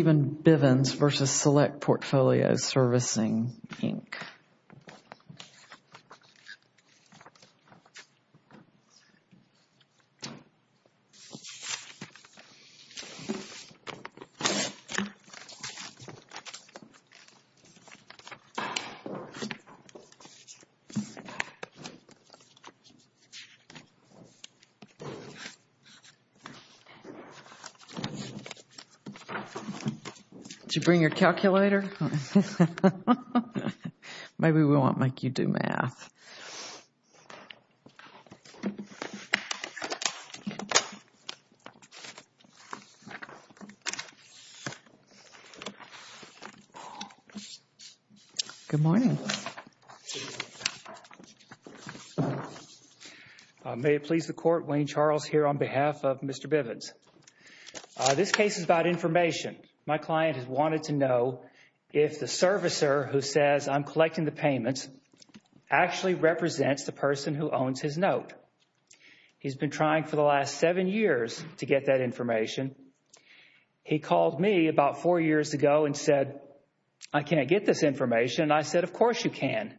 Bivens v. Select Portfolio Servicing, Inc. May it please the Court, Wayne Charles here on behalf of Mr. Bivens. This case is about information. My client has wanted to know if the servicer who says, I'm collecting the payments, actually represents the person who owns his note. He's been trying for the last seven years to get that information. He called me about four years ago and said, I can't get this information, and I said, of course you can.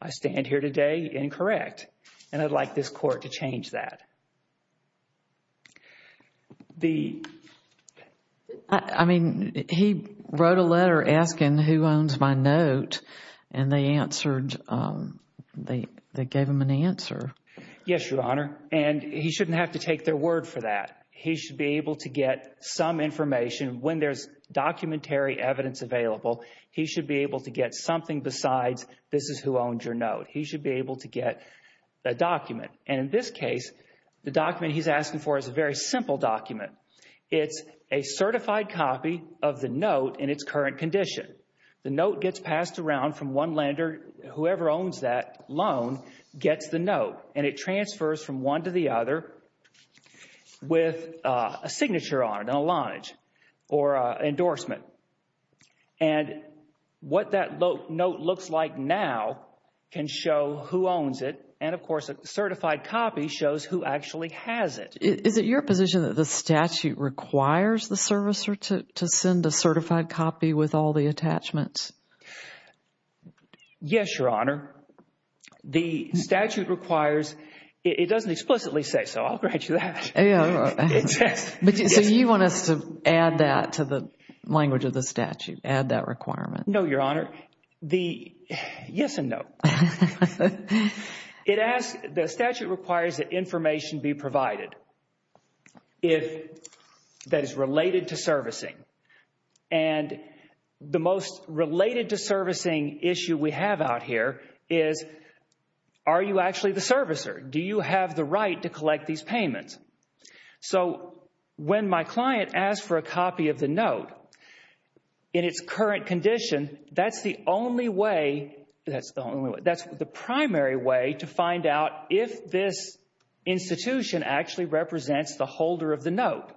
I stand here today incorrect, and I'd like this Court to change that. The – I mean, he wrote a letter asking who owns my note, and they answered, they gave him an answer. Yes, Your Honor, and he shouldn't have to take their word for that. He should be able to get some information. When there's documentary evidence available, he should be able to get something besides this is who owns your note. He should be able to get a document, and in this case, the document he's asking for is a very simple document. It's a certified copy of the note in its current condition. The note gets passed around from one lender. Whoever owns that loan gets the note, and it transfers from one to the other with a signature on it, an allotment or an endorsement. And what that note looks like now can show who owns it, and of course, a certified copy shows who actually has it. Is it your position that the statute requires the servicer to send a certified copy with all the attachments? Yes, Your Honor. The statute requires – it doesn't explicitly say so. I'll grant you that. Yeah. So you want us to add that to the language of the statute, add that requirement? No, Your Honor. The – yes and no. It asks – the statute requires that information be provided that is related to servicing, and the most related to servicing issue we have out here is are you actually the servicer? Do you have the right to collect these payments? So when my client asked for a copy of the note in its current condition, that's the only way – that's the primary way to find out if this institution actually represents the holder of the note.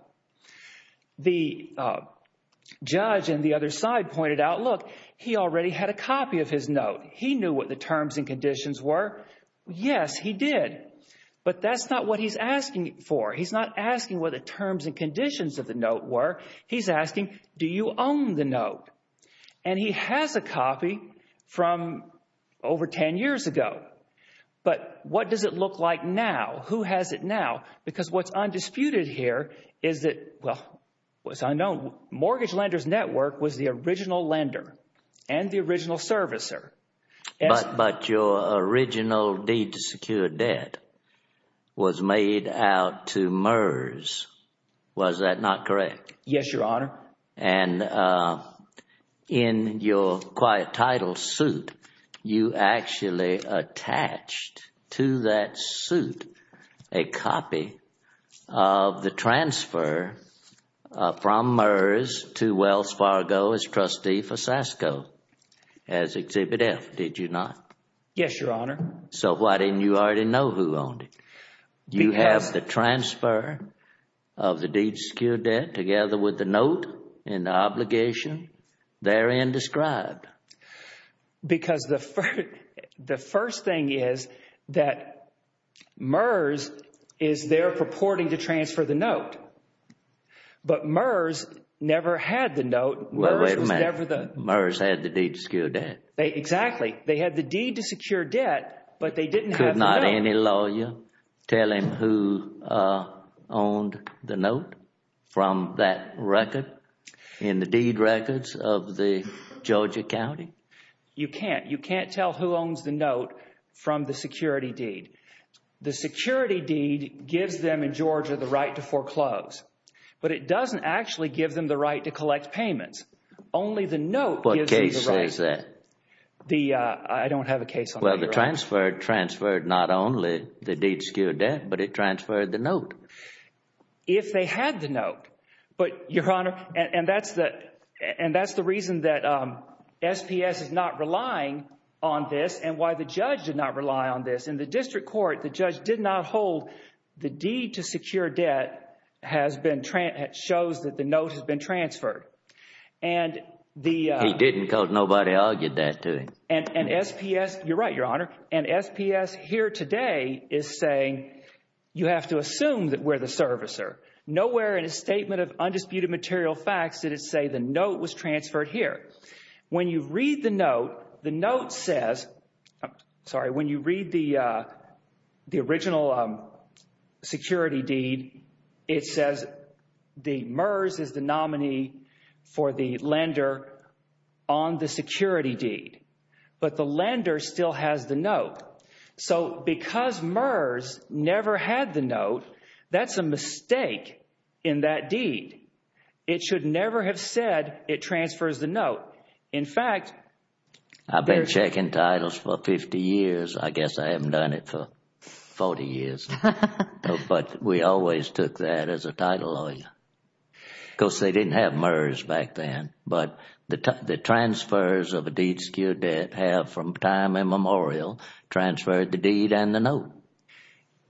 The judge on the other side pointed out, look, he already had a copy of his note. He knew what the terms and conditions were. Yes, he did, but that's not what he's asking for. He's not asking what the terms and conditions of the note were. He's asking, do you own the note? And he has a copy from over 10 years ago, but what does it look like now? Who has it now? Because what's undisputed here is that – well, what's unknown, Mortgage Lenders Network was the original lender and the original servicer. But your original deed to secure debt was made out to MERS. Was that not correct? Yes, Your Honor. And in your quiet title suit, you actually attached to that suit a copy of the transfer from MERS to Wells Fargo as trustee for SASCO as Exhibit F, did you not? Yes, Your Honor. So why didn't you already know who owned it? You have the transfer of the deed to secure debt together with the note and the obligation therein described. Because the first thing is that MERS is there purporting to transfer the note, but MERS never had the note. Wait a minute. MERS had the deed to secure debt. Exactly. They had the deed to secure debt, but they didn't have the note. Could not any lawyer tell him who owned the note from that record in the deed records of the Georgia County? You can't. You can't tell who owns the note from the security deed. The security deed gives them in Georgia the right to foreclose, but it doesn't actually give them the right to collect payments. Only the note gives them the right. What case is that? I don't have a case on that. Well, the transfer transferred not only the deed to secure debt, but it transferred the note. If they had the note, but Your Honor, and that's the reason that SPS is not relying on this and why the judge did not rely on this. In the district court, the judge did not hold the deed to secure debt shows that the note has been transferred. He didn't because nobody argued that to him. And SPS, you're right, Your Honor, and SPS here today is saying you have to assume that we're the servicer. Nowhere in a statement of undisputed material facts did it say the note was transferred here. When you read the note, the note says, sorry, when you read the original security deed, it says the MERS is the nominee for the lender on the security deed. But the lender still has the note. So because MERS never had the note, that's a mistake in that deed. It should never have said it transfers the note. In fact... I've been checking titles for 50 years. I guess I haven't done it for 40 years. But we always took that as a title lawyer because they didn't have MERS back then. But the transfers of a deed to secure debt have, from time immemorial, transferred the deed and the note.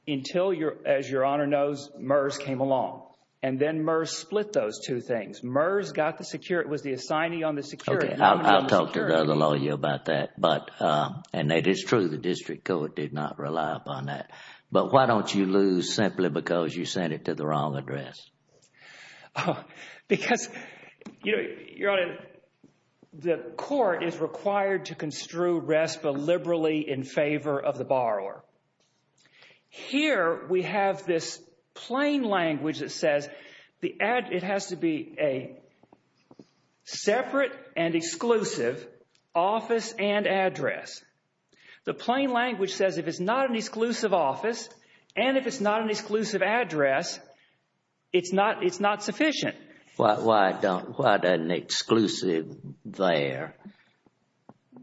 Until, as Your Honor knows, MERS came along. And then MERS split those two things. MERS got the security... was the assignee on the security... Okay. I'll talk to the other lawyer about that. And that is true. The district court did not rely upon that. But why don't you lose simply because you sent it to the wrong address? Because, Your Honor, the court is required to construe RESPA liberally in favor of the borrower. Here we have this plain language that says it has to be a separate and exclusive office and address. The plain language says if it's not an exclusive office and if it's not an exclusive address, it's not sufficient. Why doesn't exclusive there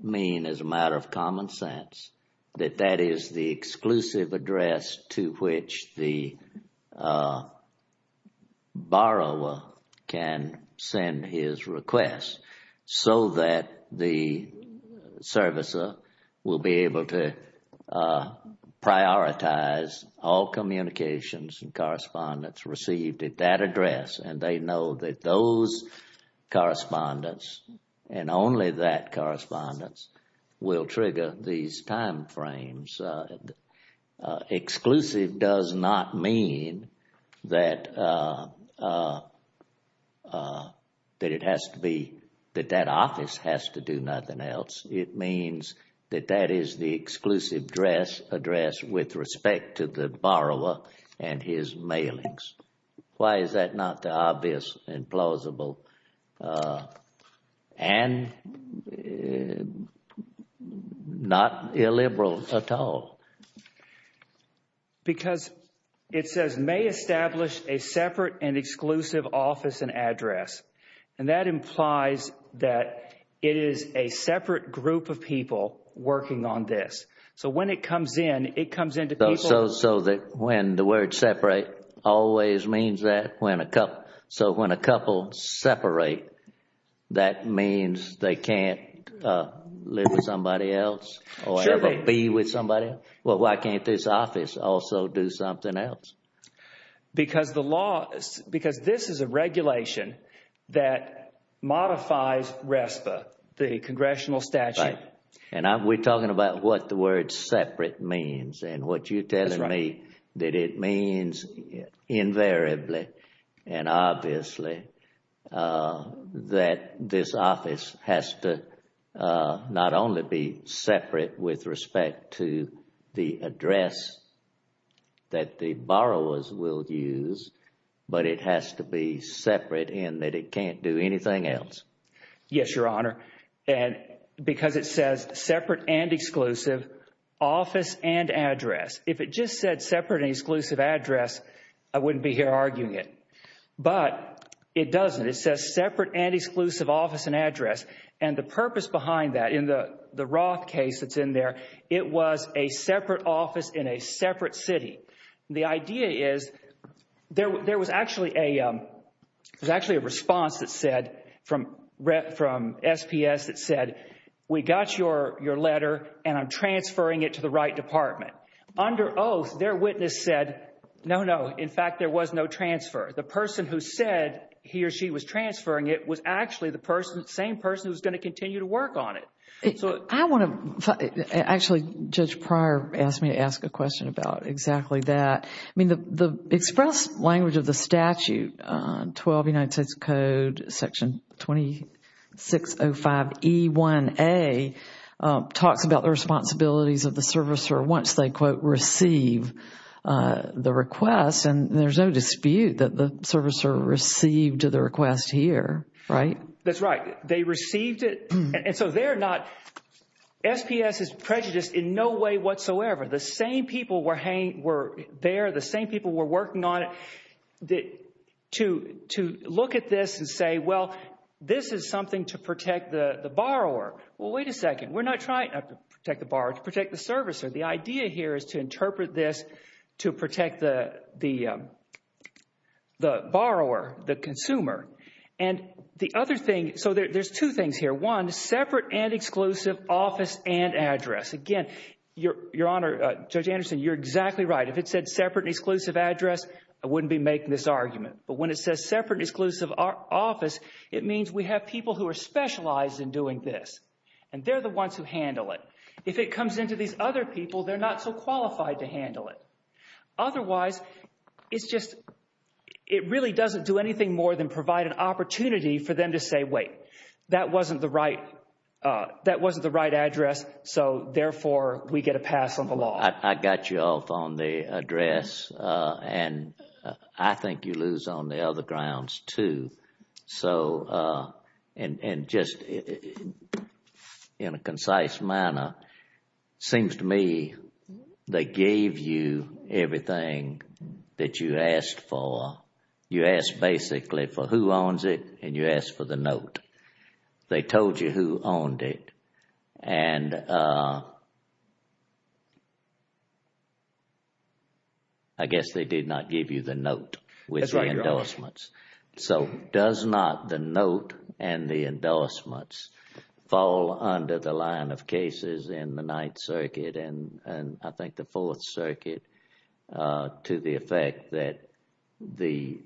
mean, as a matter of common sense, that that is the exclusive be able to prioritize all communications and correspondence received at that address and they know that those correspondence and only that correspondence will trigger these time frames. Exclusive does not mean that it has to be... that that office has to do nothing else. It means that that is the exclusive address with respect to the borrower and his mailings. Why is that not the obvious and plausible and not illiberal at all? Because it says may establish a separate and exclusive office and address. And that implies that it is a separate group of people working on this. So when it comes in, it comes in to people... So when the word separate always means that when a couple... so when a couple separate, that means they can't live with somebody else or ever be with somebody? Well, why can't this office also do something else? Because the law... because this is a regulation that modifies RESPA, the congressional statute. And we're talking about what the word separate means and what you're telling me that it means invariably and obviously that this office has to not only be separate with respect to the address that the borrowers will use, but it has to be separate in that it can't do anything else. Yes, Your Honor, and because it says separate and exclusive office and address. If it just said separate and exclusive address, I wouldn't be here arguing it. But it doesn't. It says separate and exclusive office and address. And the purpose behind that in the Roth case that's in there, it was a separate office in a separate city. The idea is there was actually a response that said from SPS that said, we got your letter and I'm transferring it to the right department. Under oath, their witness said, no, no. In fact, there was no transfer. The person who said he or she was transferring it was actually the same person who's going to continue to work on it. I want to... actually, Judge Pryor asked me to ask a question about exactly that. I mean, the express language of the statute, 12 United States Code, Section 2605E1A, talks about the responsibilities of the servicer once they, quote, receive the request. And there's no dispute that the servicer received the request here, right? That's right. They received it. And so they're not... SPS is prejudiced in no way whatsoever. The same people were there. The same people were working on it to look at this and say, well, this is something to protect the borrower. Well, wait a second. We're not trying to protect the borrower, to protect the servicer. The idea here is to interpret this to protect the borrower, the consumer. And the other thing... so there's two things here. One, separate and exclusive office and address. Again, Your Honor, Judge Anderson, you're exactly right. If it said separate and exclusive address, I wouldn't be making this argument. But when it says separate and exclusive office, it means we have people who are specialized in doing this. And they're the ones who handle it. If it comes into these other people, they're not so qualified to handle it. Otherwise, it's just... it really doesn't do anything more than provide an opportunity for them to say, wait. That wasn't the right... that wasn't the right address. So therefore, we get a pass on the law. I got you off on the address, and I think you lose on the other grounds, too. So, and just in a concise manner, it seems to me they gave you everything that you asked for. You asked basically for who owns it, and you asked for the note. They told you who owned it, and I guess they did not give you the note with the endorsements. So does not the note and the endorsements fall under the line of cases in the Ninth Circuit and, I think, the Fourth Circuit to the effect that the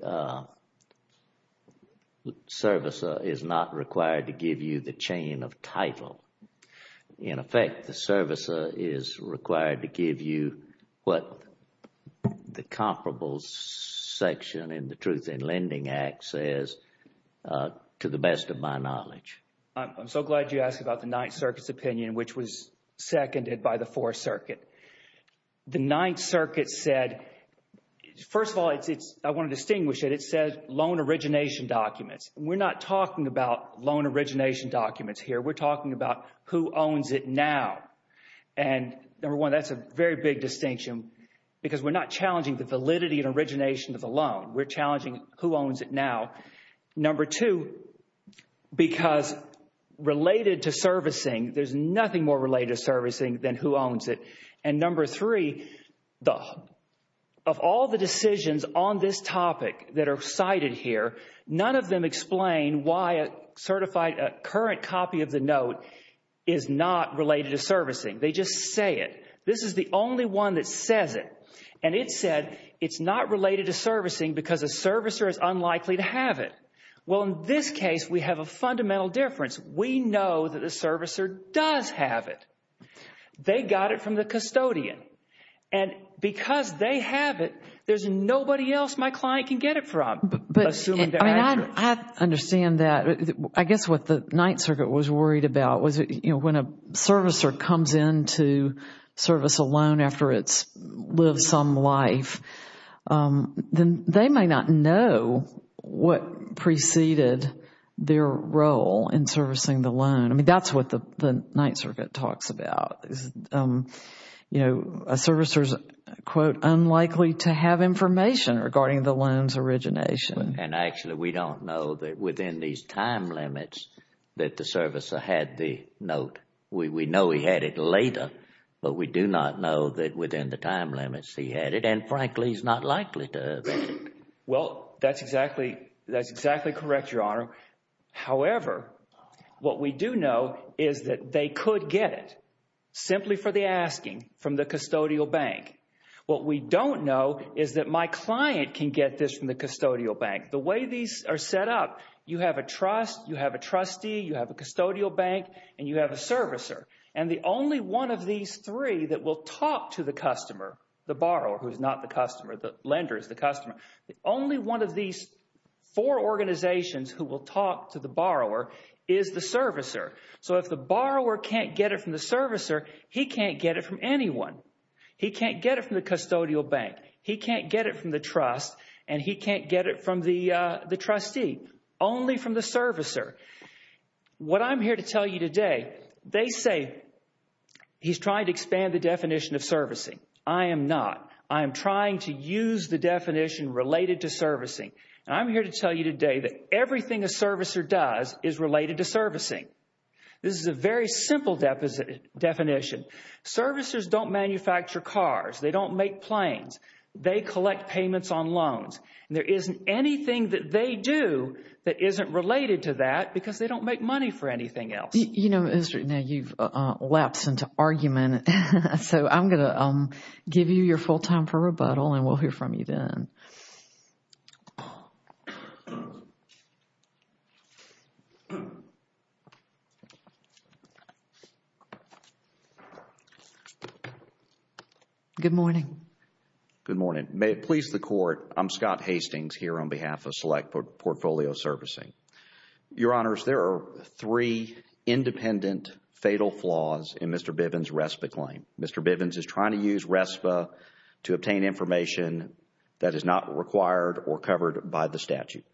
servicer is not required to give you the chain of title? In effect, the servicer is required to give you what the comparables section in the Truth in Lending Act says, to the best of my knowledge. I'm so glad you asked about the Ninth Circuit's opinion, which was seconded by the Fourth Circuit. The Ninth Circuit said... first of all, it's... I want to distinguish it. It says loan origination documents. We're not talking about loan origination documents here. We're talking about who owns it now. And number one, that's a very big distinction because we're not challenging the validity and origination of the loan. We're challenging who owns it now. Number two, because related to servicing, there's nothing more related to servicing than who owns it. And number three, of all the decisions on this topic that are cited here, none of them explain why a certified... a current copy of the note is not related to servicing. They just say it. This is the only one that says it. And it said it's not related to servicing because a servicer is unlikely to have it. Well, in this case, we have a fundamental difference. We know that the servicer does have it. They got it from the custodian. And because they have it, there's nobody else my client can get it from, I mean, I understand that. I guess what the Ninth Circuit was worried about was, you know, when a servicer comes into service alone after it's lived some life, then they might not know what preceded their role in servicing the loan. I mean, that's what the Ninth Circuit talks about. You know, a servicer is, quote, unlikely to have information regarding the loan's origination. And actually, we don't know that within these time limits that the servicer had the note. We know he had it later, but we do not know that within the time limits he had it. And frankly, he's not likely to have it. Well, that's exactly... that's exactly correct, Your Honor. However, what we do know is that they could get it. Simply for the asking, from the custodial bank. What we don't know is that my client can get this from the custodial bank. The way these are set up, you have a trust, you have a trustee, you have a custodial bank, and you have a servicer. And the only one of these three that will talk to the customer, the borrower, who's not the customer, the lender is the customer, the only one of these four organizations who will talk to the borrower is the servicer. So if the borrower can't get it from the servicer, he can't get it from anyone. He can't get it from the custodial bank. He can't get it from the trust, and he can't get it from the trustee. Only from the servicer. What I'm here to tell you today, they say he's trying to expand the definition of servicing. I am not. I am trying to use the definition related to servicing. And I'm here to tell you today that everything a servicer does is related to servicing. This is a very simple definition. Servicers don't manufacture cars. They don't make planes. They collect payments on loans. And there isn't anything that they do that isn't related to that because they don't make money for anything else. You know, now you've lapsed into argument. So I'm going to give you your full time for rebuttal and we'll hear from you then. Good morning. Good morning. May it please the Court. I'm Scott Hastings here on behalf of Select Portfolio Servicing. Your Honors, there are three independent fatal flaws in Mr. Bivens' RESPA claim. Mr. Bivens is trying to use RESPA to obtain information that is not required or covered by the statute.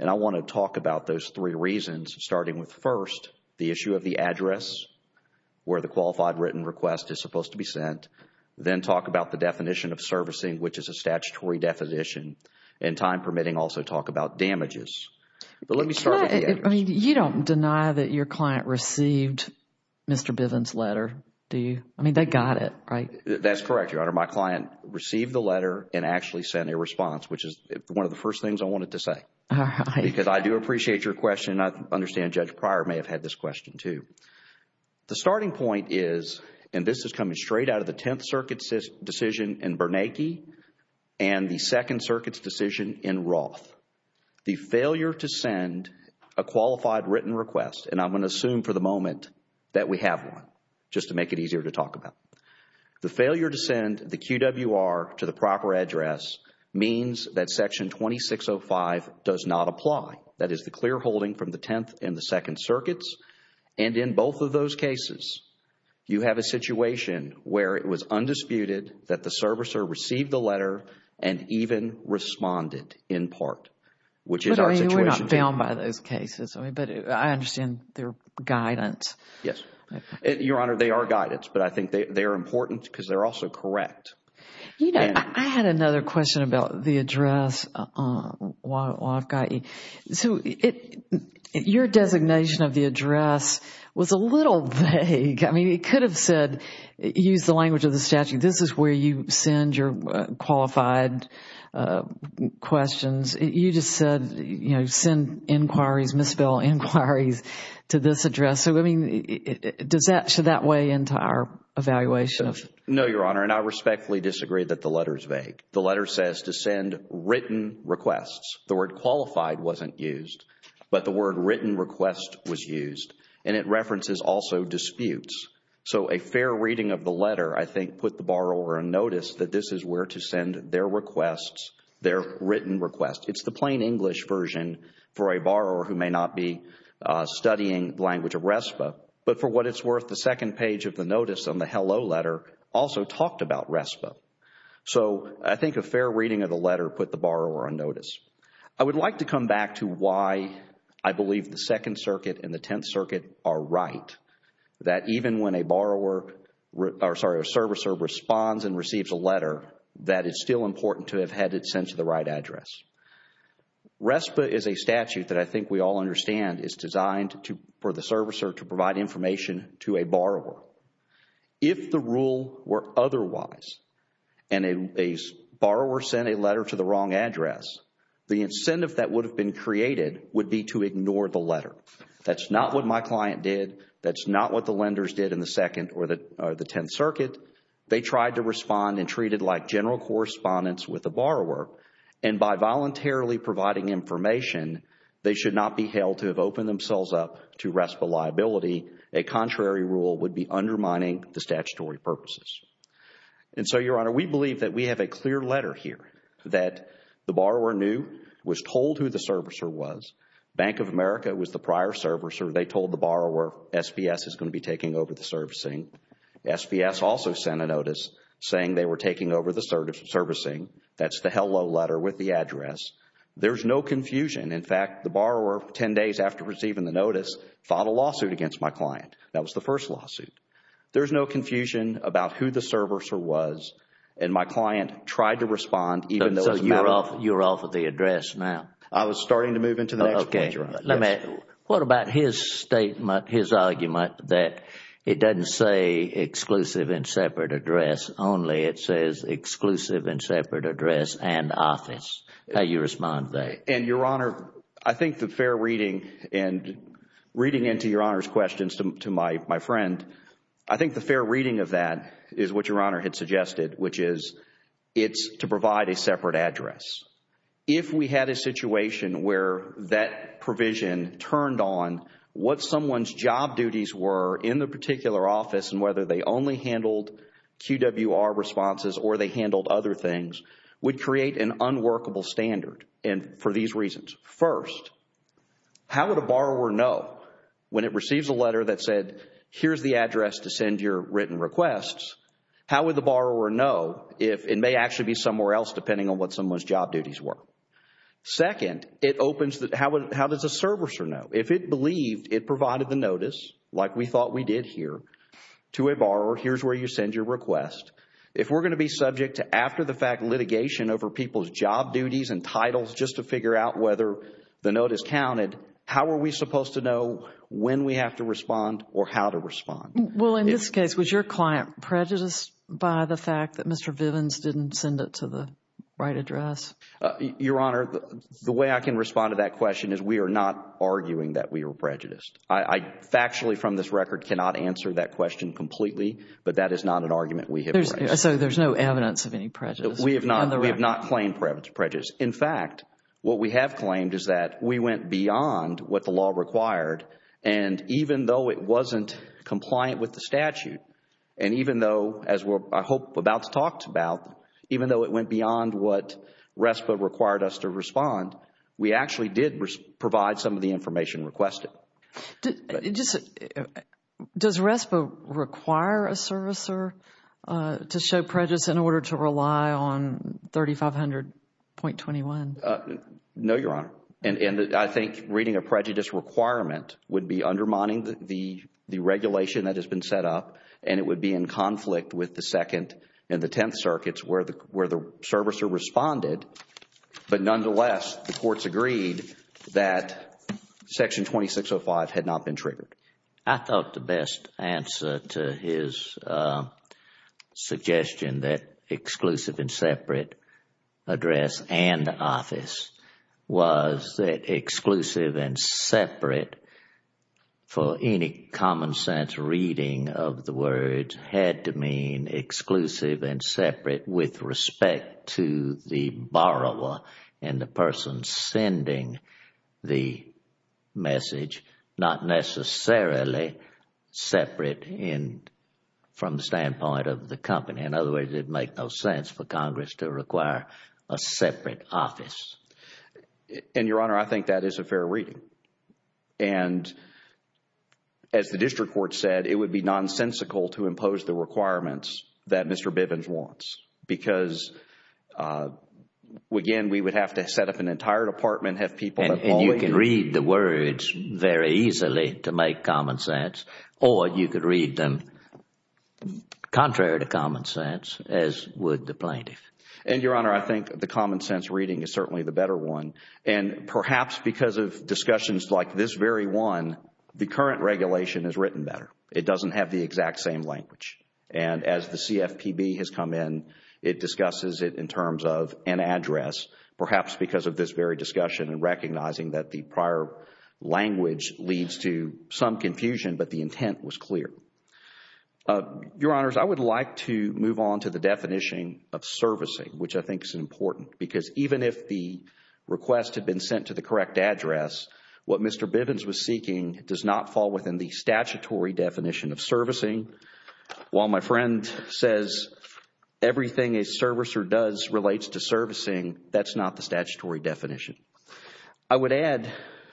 And I want to talk about those three reasons starting with first, the issue of servicing. The issue of the address where the qualified written request is supposed to be sent. Then talk about the definition of servicing, which is a statutory definition. And time permitting, also talk about damages. But let me start with the address. You don't deny that your client received Mr. Bivens' letter, do you? I mean, they got it, right? That's correct, Your Honor. My client received the letter and actually sent a response, which is one of the first things I wanted to say. Because I do appreciate your question. I understand Judge Pryor may have had this question too. The starting point is, and this is coming straight out of the Tenth Circuit's decision in Bernanke and the Second Circuit's decision in Roth. The failure to send a qualified written request, and I'm going to assume for the moment that we have one, just to make it easier to talk about. The failure to send the QWR to the proper address means that Section 2605 does not apply. That is the clear holding from the Tenth and the Second Circuits. And in both of those cases, you have a situation where it was undisputed that the servicer received the letter and even responded in part, which is our situation. But we're not bound by those cases. But I understand they're guidance. Yes. Your Honor, they are guidance. But I think they are important because they're also correct. You know, I had another question about the address while I've got you. So your designation of the address was a little vague. I mean, it could have said, use the language of the statute, this is where you send your qualified questions. You just said, you know, send inquiries, misspell inquiries to this address. So, I mean, does that weigh into our evaluation? No, Your Honor, and I respectfully disagree that the letter is vague. The letter says to send written requests. The word qualified wasn't used, but the word written request was used. And it references also disputes. So a fair reading of the letter, I think, put the borrower on notice that this is where to send their requests, their written requests. It's the plain English version for a borrower who may not be studying language of RESPA. But for what it's worth, the second page of the notice on the hello letter also talked about RESPA. So I think a fair reading of the letter put the borrower on notice. I would like to come back to why I believe the Second Circuit and the Tenth Circuit are right. That even when a borrower, or sorry, a servicer responds and receives a letter, that it's still important to have had it sent to the right address. RESPA is a statute that I think we all understand is designed for the servicer to provide information to a borrower. If the rule were otherwise, and a borrower sent a letter to the wrong address, the incentive that would have been created would be to ignore the letter. That's not what my client did. That's not what the lenders did in the Second or the Tenth Circuit. They tried to respond and treat it like general correspondence with a borrower. And by voluntarily providing information, they should not be held to have opened themselves up to RESPA liability. A contrary rule would be undermining the statutory purposes. And so, Your Honor, we believe that we have a clear letter here that the borrower knew, was told who the servicer was. Bank of America was the prior servicer. They told the borrower SBS is going to be taking over the servicing. SBS also sent a notice saying they were taking over the servicing. That's the hello letter with the address. There's no confusion. In fact, the borrower, 10 days after receiving the notice, filed a lawsuit against my client. That was the first lawsuit. There's no confusion about who the servicer was. And my client tried to respond. So, you're off of the address now? I was starting to move into the next point, Your Honor. What about his statement, his argument, that it doesn't say exclusive and separate address, only it says exclusive and separate address and office? How do you respond to that? And, Your Honor, I think the fair reading and reading into Your Honor's questions to my friend, I think the fair reading of that is what Your Honor had suggested, which is it's to provide a separate address. If we had a situation where that provision turned on what someone's job duties were in the particular office and whether they only handled QWR responses or they handled other things, would create an unworkable standard for these reasons. First, how would a borrower know when it receives a letter that said, here's the address to send your written requests? How would the borrower know if it may actually be somewhere else depending on what someone's job duties were? Second, how does a servicer know? If it believed it provided the notice, like we thought we did here, to a borrower, here's where you send your request. If we're going to be subject to after-the-fact litigation over people's job duties and titles just to figure out whether the notice counted, how are we supposed to know when we have to respond or how to respond? Well, in this case, was your client prejudiced by the fact that Mr. Vivens didn't send it to the right address? Your Honor, the way I can respond to that question is we are not arguing that we were prejudiced. I factually from this record cannot answer that question completely, but that is not an argument we have raised. So there's no evidence of any prejudice? We have not claimed prejudice. In fact, what we have claimed is that we went beyond what the law required and even though it wasn't compliant with the statute and even though, as we're, I hope, about to talk about, even though it went beyond what RESPA required us to respond, we actually did provide some of the information requested. Does RESPA require a servicer to show prejudice in order to rely on 3500.21? No, Your Honor, and I think reading a prejudice requirement would be undermining the regulation that has been set up and it would be in conflict with the Second and the Tenth Circuits where the servicer responded, but nonetheless, the courts agreed that Section 2605 had not been triggered. I thought the best answer to his suggestion that exclusive and separate address and office was that exclusive and separate for any common sense reading of the words had to mean exclusive and separate with respect to the borrower and the person sending the message, not necessarily separate from the standpoint of the company. In other words, it'd make no sense for Congress to require a separate office. And, Your Honor, I think that is a fair reading. And as the district court said, it would be nonsensical to impose the requirements that Mr. Bivens wants because, again, we would have to set up an entire department, have people that follow. And you can read the words very easily to make common sense or you could read them contrary to common sense as would the plaintiff. And, Your Honor, I think the common sense reading is certainly the better one. And perhaps because of discussions like this very one, the current regulation is written better. It doesn't have the exact same language. And as the CFPB has come in, it discusses it in terms of an address, perhaps because of this very discussion and recognizing that the prior language leads to some confusion, but the intent was clear. Your Honors, I would like to move on to the definition of servicing, which I think is important because even if the request had been sent to the correct address, what Mr. Bivens was seeking does not fall within the statutory definition of servicing. While my friend says everything a servicer does relates to servicing, that's not the statutory definition. I would add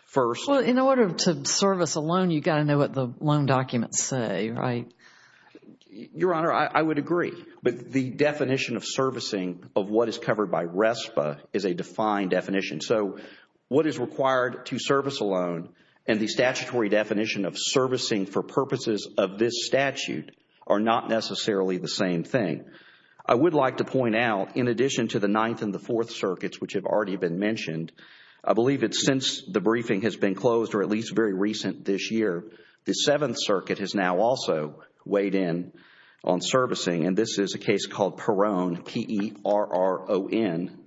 first... Well, in order to service a loan, you've got to know what the loan documents say, right? Your Honor, I would agree. But the definition of servicing of what is covered by RESPA is a defined definition. So what is required to service a loan and the statutory definition of servicing for purposes of this statute are not necessarily the same thing. I would like to point out, in addition to the Ninth and the Fourth Circuits, which have already been mentioned, I believe it's since the briefing has been closed or at least very recent this year, the Seventh Circuit has now also weighed in on servicing. This is a case called Perron, P-E-R-R-O-N.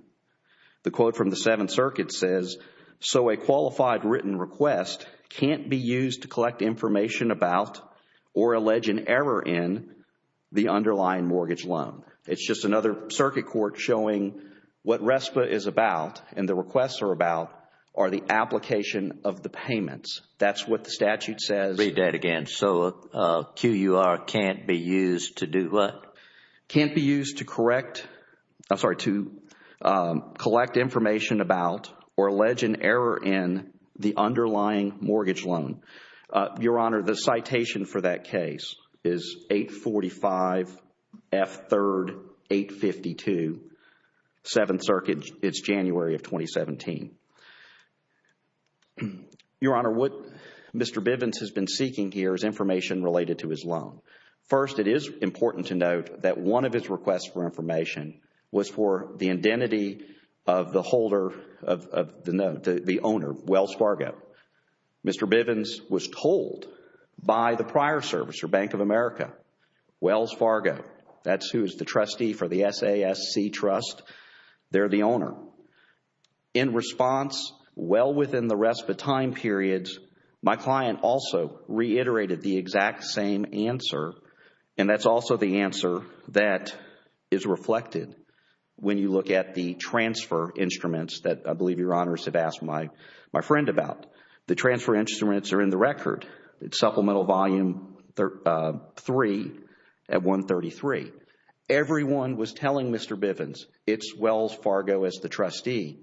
The quote from the Seventh Circuit says, so a qualified written request can't be used to collect information about or allege an error in the underlying mortgage loan. It's just another circuit court showing what RESPA is about and the requests are about are the application of the payments. That's what the statute says. Read that again. So a QUR can't be used to do what? Can't be used to correct, I'm sorry, to collect information about or allege an error in the underlying mortgage loan. Your Honor, the citation for that case is 845 F. 3rd 852, Seventh Circuit, it's January of 2017. Your Honor, what Mr. Bivens has been seeking here is information related to his loan. First, it is important to note that one of his requests for information was for the identity of the holder of the note, the owner, Wells Fargo. Mr. Bivens was told by the prior servicer, Bank of America, Wells Fargo, that's who is the trustee for the SASC Trust, they're the owner. In response, well within the RESPA time periods, my client also reiterated the exact same answer and that's also the answer that is reflected when you look at the transfer instruments that I believe Your Honors have asked my friend about. The transfer instruments are in the record. It's Supplemental Volume 3 at 133. Everyone was telling Mr. Bivens, it's Wells Fargo as the trustee,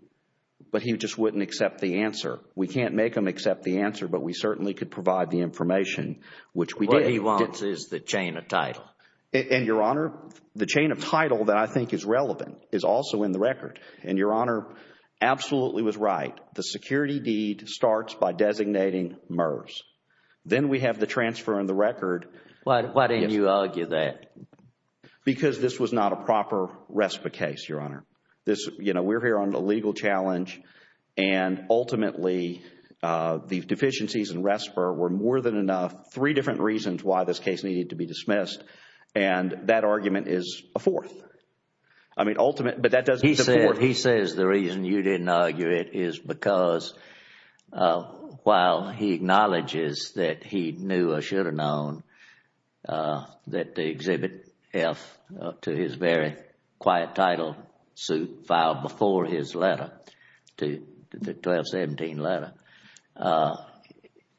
but he just wouldn't accept the answer. We can't make him accept the answer, but we certainly could provide the information, which we did. What he wants is the chain of title. And Your Honor, the chain of title that I think is relevant is also in the record. And Your Honor, absolutely was right. The security deed starts by designating MERS. Then we have the transfer in the record. Why didn't you argue that? Because this was not a proper RESPA case, Your Honor. This, you know, we're here on a legal challenge and ultimately the deficiencies in RESPA were more than enough, three different reasons why this case needed to be dismissed. And that argument is a fourth. I mean, ultimate, but that doesn't support... He says the reason you didn't argue it is because while he acknowledges that he knew or should have known that they exhibit F to his very quiet title suit filed before his letter, to the 1217 letter,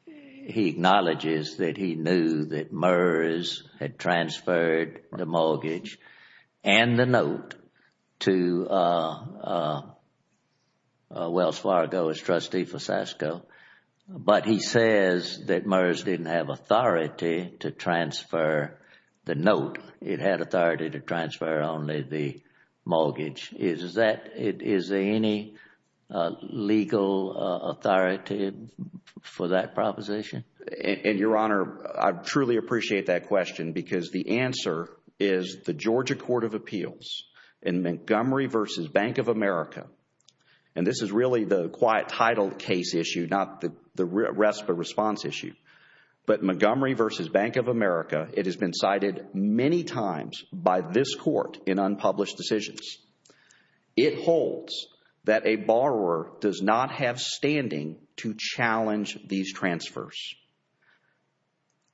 he acknowledges that he knew that MERS had transferred the mortgage and the note to Wells Fargo as trustee for Sasko. But he says that MERS didn't have authority to transfer the note. It had authority to transfer only the mortgage. Is there any legal authority for that proposition? And, Your Honor, I truly appreciate that question because the answer is the Georgia Court of Appeals in Montgomery v. Bank of America, and this is really the quiet title case issue, not the RESPA response issue. But Montgomery v. Bank of America, it has been cited many times by this court in unpublished decisions. It holds that a borrower does not have standing to challenge these transfers.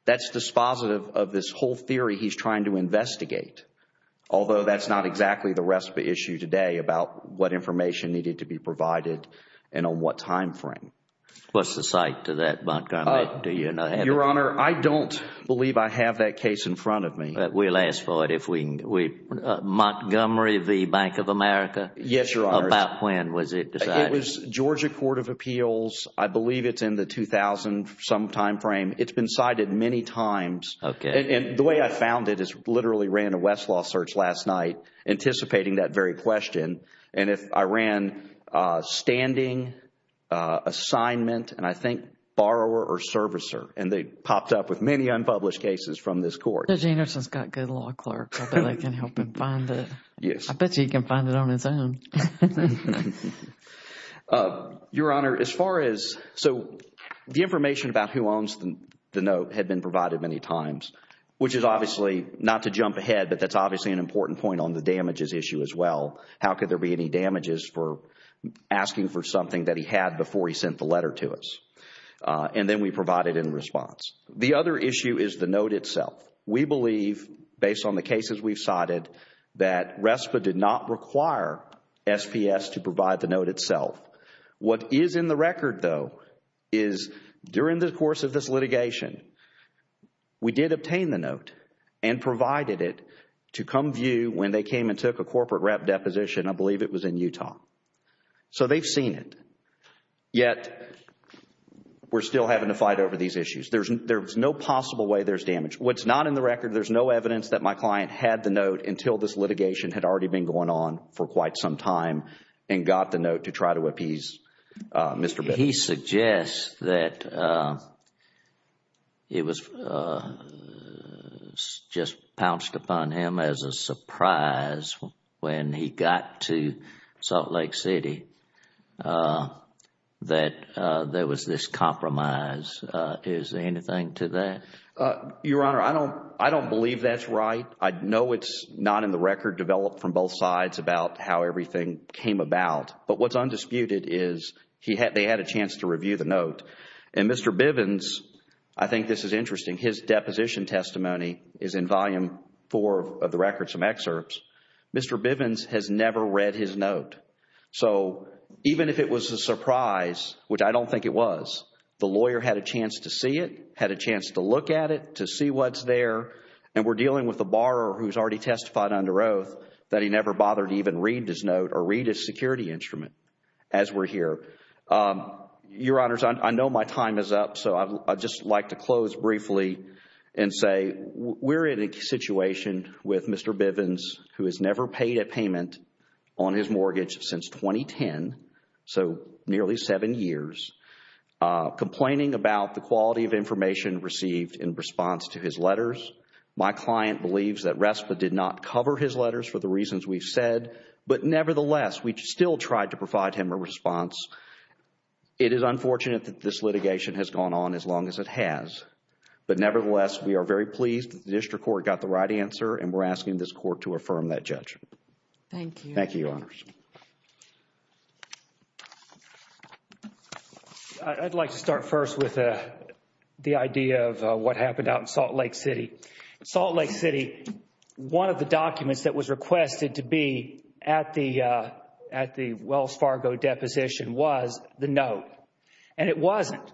That's dispositive of this whole theory he's trying to investigate, although that's not exactly the RESPA issue today about what information needed to be provided and on what time frame. What's the cite to that, Montgomery? Do you know? Your Honor, I don't believe I have that case in front of me. We'll ask for it if we can. Montgomery v. Bank of America? Yes, Your Honor. About when was it decided? It was Georgia Court of Appeals. I believe it's in the 2000 some time frame. It's been cited many times. Okay. And the way I found it is literally ran a Westlaw search last night anticipating that very question. And if I ran standing, assignment, and I think borrower or servicer, and they popped up with many unpublished cases from this court. Judge Anderson's got good law clerks that can help him find it. Yes. I bet you he can find it on his own. Your Honor, as far as, so the information about who owns the note had been provided many times, which is obviously not to jump ahead, but that's obviously an important point on the damages issue as well. How could there be any damages for asking for something that he had before he sent the letter to us? And then we provide it in response. The other issue is the note itself. We believe, based on the cases we've cited, that RESPA did not require SPS to provide the note itself. What is in the record though is during the course of this litigation, we did obtain the note and provided it to come view when they came and took a corporate rep deposition. I believe it was in Utah. So they've seen it. Yet, we're still having to fight over these issues. There's no possible way there's damage. What's not in the record, there's no evidence that my client had the note until this litigation had already been going on for quite some time and got the note to try to appease Mr. Bitter. He suggests that it was just pounced upon him as a surprise when he got to Salt Lake City that there was this compromise. Is there anything to that? Your Honor, I don't believe that's right. I know it's not in the record developed from both sides about how everything came about. But what's undisputed is they had a chance to review the note. And Mr. Bivens, I think this is interesting, his deposition testimony is in volume four of the record, some excerpts. Mr. Bivens has never read his note. So even if it was a surprise, which I don't think it was, the lawyer had a chance to see it, had a chance to look at it, to see what's there. And we're dealing with a borrower who's already testified under oath that he never bothered to even read his note or read his security instrument as we're here. Your Honors, I know my time is up. So I'd just like to close briefly and say we're in a situation with Mr. Bivens who has never paid a payment on his mortgage since 2010, so nearly seven years. Complaining about the quality of information received in response to his letters. My client believes that RESPA did not cover his letters for the reasons we've said. But nevertheless, we still tried to provide him a response. It is unfortunate that this litigation has gone on as long as it has. But nevertheless, we are very pleased that the district court got the right answer and we're asking this court to affirm that judgment. Thank you. Thank you, Your Honors. I'd like to start first with the idea of what happened out in Salt Lake City. Salt Lake City, one of the documents that was requested to be at the Wells Fargo deposition was the note. And it wasn't.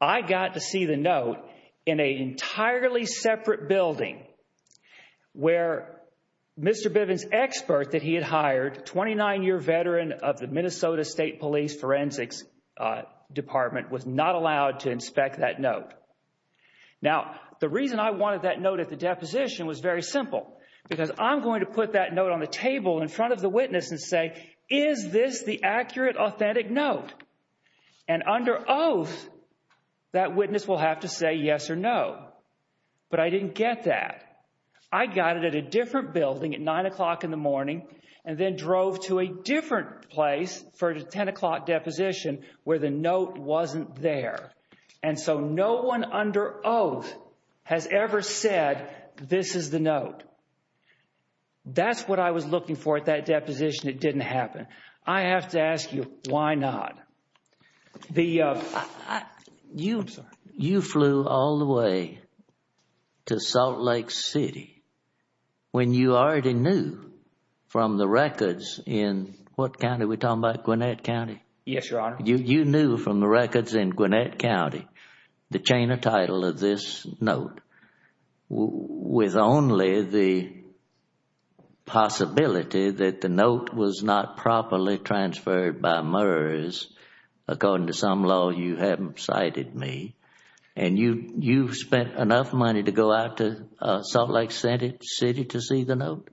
I got to see the note in an entirely separate building where Mr. Bivens' expert that he had hired, 29-year veteran of the Minnesota State Police Forensics Department, was not allowed to inspect that note. Now, the reason I wanted that note at the deposition was very simple. Because I'm going to put that note on the table in front of the witness and say, is this the accurate, authentic note? And under oath, that witness will have to say yes or no. But I didn't get that. I got it at a different building at 9 o'clock in the morning and then drove to a different place for a 10 o'clock deposition where the note wasn't there. And so no one under oath has ever said, this is the note. That's what I was looking for at that deposition. It didn't happen. I have to ask you, why not? The, you flew all the way to Salt Lake City when you already knew from the records in, what county are we talking about, Gwinnett County? Yes, Your Honor. You knew from the records in Gwinnett County, the chain of title of this note, with only the possibility that the note was not properly transferred by MERS according to some law you haven't cited me. And you spent enough money to go out to Salt Lake City to see the note?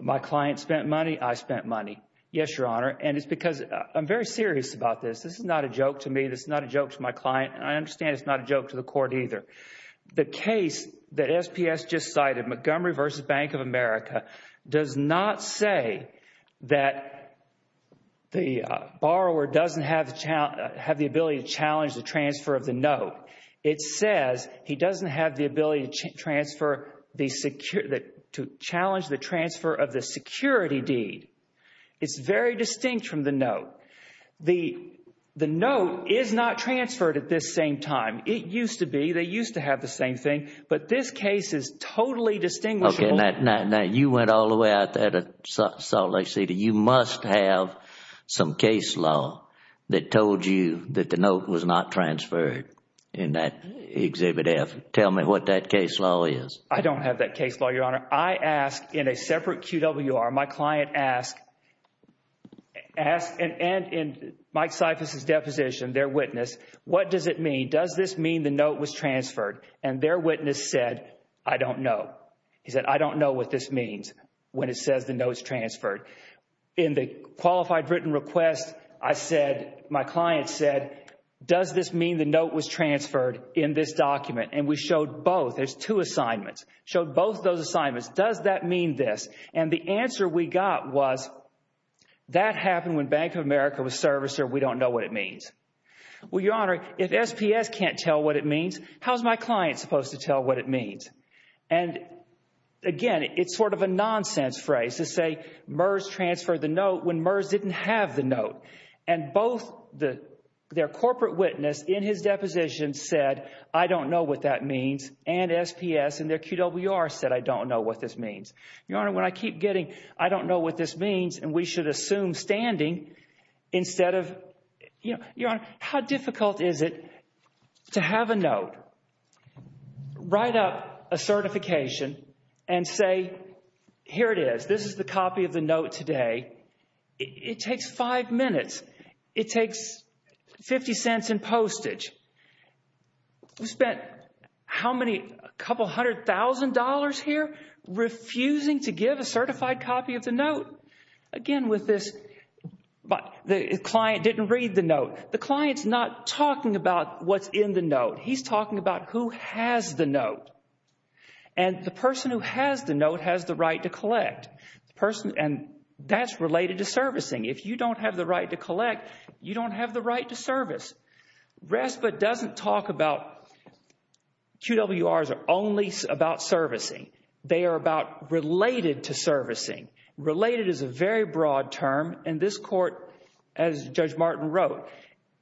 My client spent money. I spent money. Yes, Your Honor. And it's because I'm very serious about this. This is not a joke to me. This is not a joke to my client. And I understand it's not a joke to the court either. The case that SPS just cited, Montgomery v. Bank of America, does not say that the borrower doesn't have the ability to challenge the transfer of the note. It says he doesn't have the ability to challenge the transfer of the security deed. It's very distinct from the note. The note is not transferred at this same time. It used to be. They used to have the same thing. But this case is totally distinguishable. Now you went all the way out there to Salt Lake City. You must have some case law that told you that the note was not transferred in that Exhibit F. Tell me what that case law is. I don't have that case law, Your Honor. I asked in a separate QWR. My client asked, and in Mike Syphus' deposition, their witness, what does it mean? Does this mean the note was transferred? And their witness said, I don't know. He said, I don't know what this means when it says the note's transferred. In the qualified written request, I said, my client said, does this mean the note was transferred in this document? And we showed both. There's two assignments. Showed both those assignments. Does that mean this? And the answer we got was that happened when Bank of America was servicer. We don't know what it means. Well, Your Honor, if SPS can't tell what it means, how's my client supposed to tell what it means? And again, it's sort of a nonsense phrase to say, MERS transferred the note when MERS didn't have the note. And both their corporate witness in his deposition said, I don't know what that means. And SPS in their QWR said, I don't know what this means. Your Honor, when I keep getting, I don't know what this means, and we should assume standing instead of, Your Honor, how difficult is it to have a note write up a certification and say, here it is. This is the copy of the note today. It takes five minutes. It takes 50 cents in postage. We spent how many, a couple hundred thousand dollars here refusing to give a certified copy of the note. Again, with this, the client didn't read the note. The client's not talking about what's in the note. He's talking about who has the note. And the person who has the note has the right to collect. And that's related to servicing. If you don't have the right to collect, you don't have the right to service. RESPA doesn't talk about, QWRs are only about servicing. They are about related to servicing. Related is a very broad term. And this court, as Judge Martin wrote,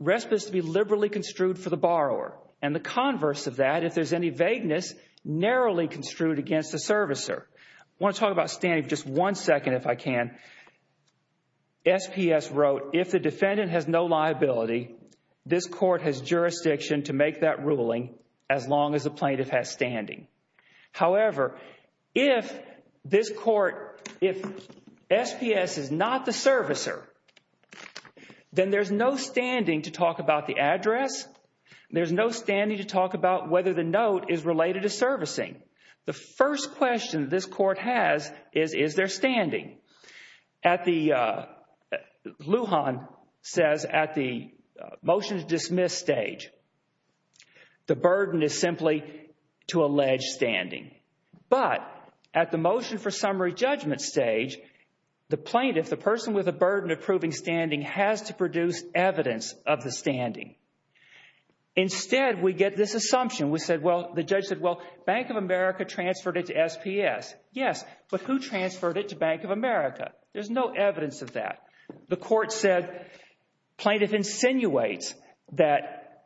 RESPA is to be liberally construed for the borrower. The converse of that, if there's any vagueness, narrowly construed against the servicer. I want to talk about standing for just one second, if I can. SPS wrote, if the defendant has no liability, this court has jurisdiction to make that ruling as long as the plaintiff has standing. However, if this court, if SPS is not the servicer, then there's no standing to talk about the address. There's no standing to talk about whether the note is related to servicing. The first question this court has is, is there standing? Lujan says at the motion to dismiss stage, the burden is simply to allege standing. But at the motion for summary judgment stage, the plaintiff, the person with a burden of proving standing has to produce evidence of the standing. Instead, we get this assumption. We said, well, the judge said, well, Bank of America transferred it to SPS. Yes, but who transferred it to Bank of America? There's no evidence of that. The court said plaintiff insinuates that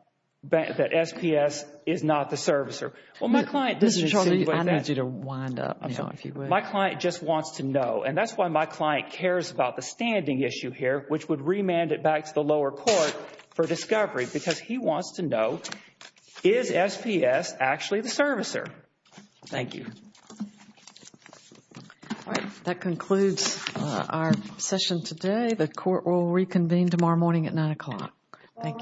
SPS is not the servicer. Well, my client doesn't insinuate that. I need you to wind up, you know, if you would. My client just wants to know. And that's why my client cares about the standing issue here, which would remand it back to the lower court for discovery because he wants to know, is SPS actually the servicer? Thank you. That concludes our session today. The court will reconvene tomorrow morning at 9 o'clock. Thank you.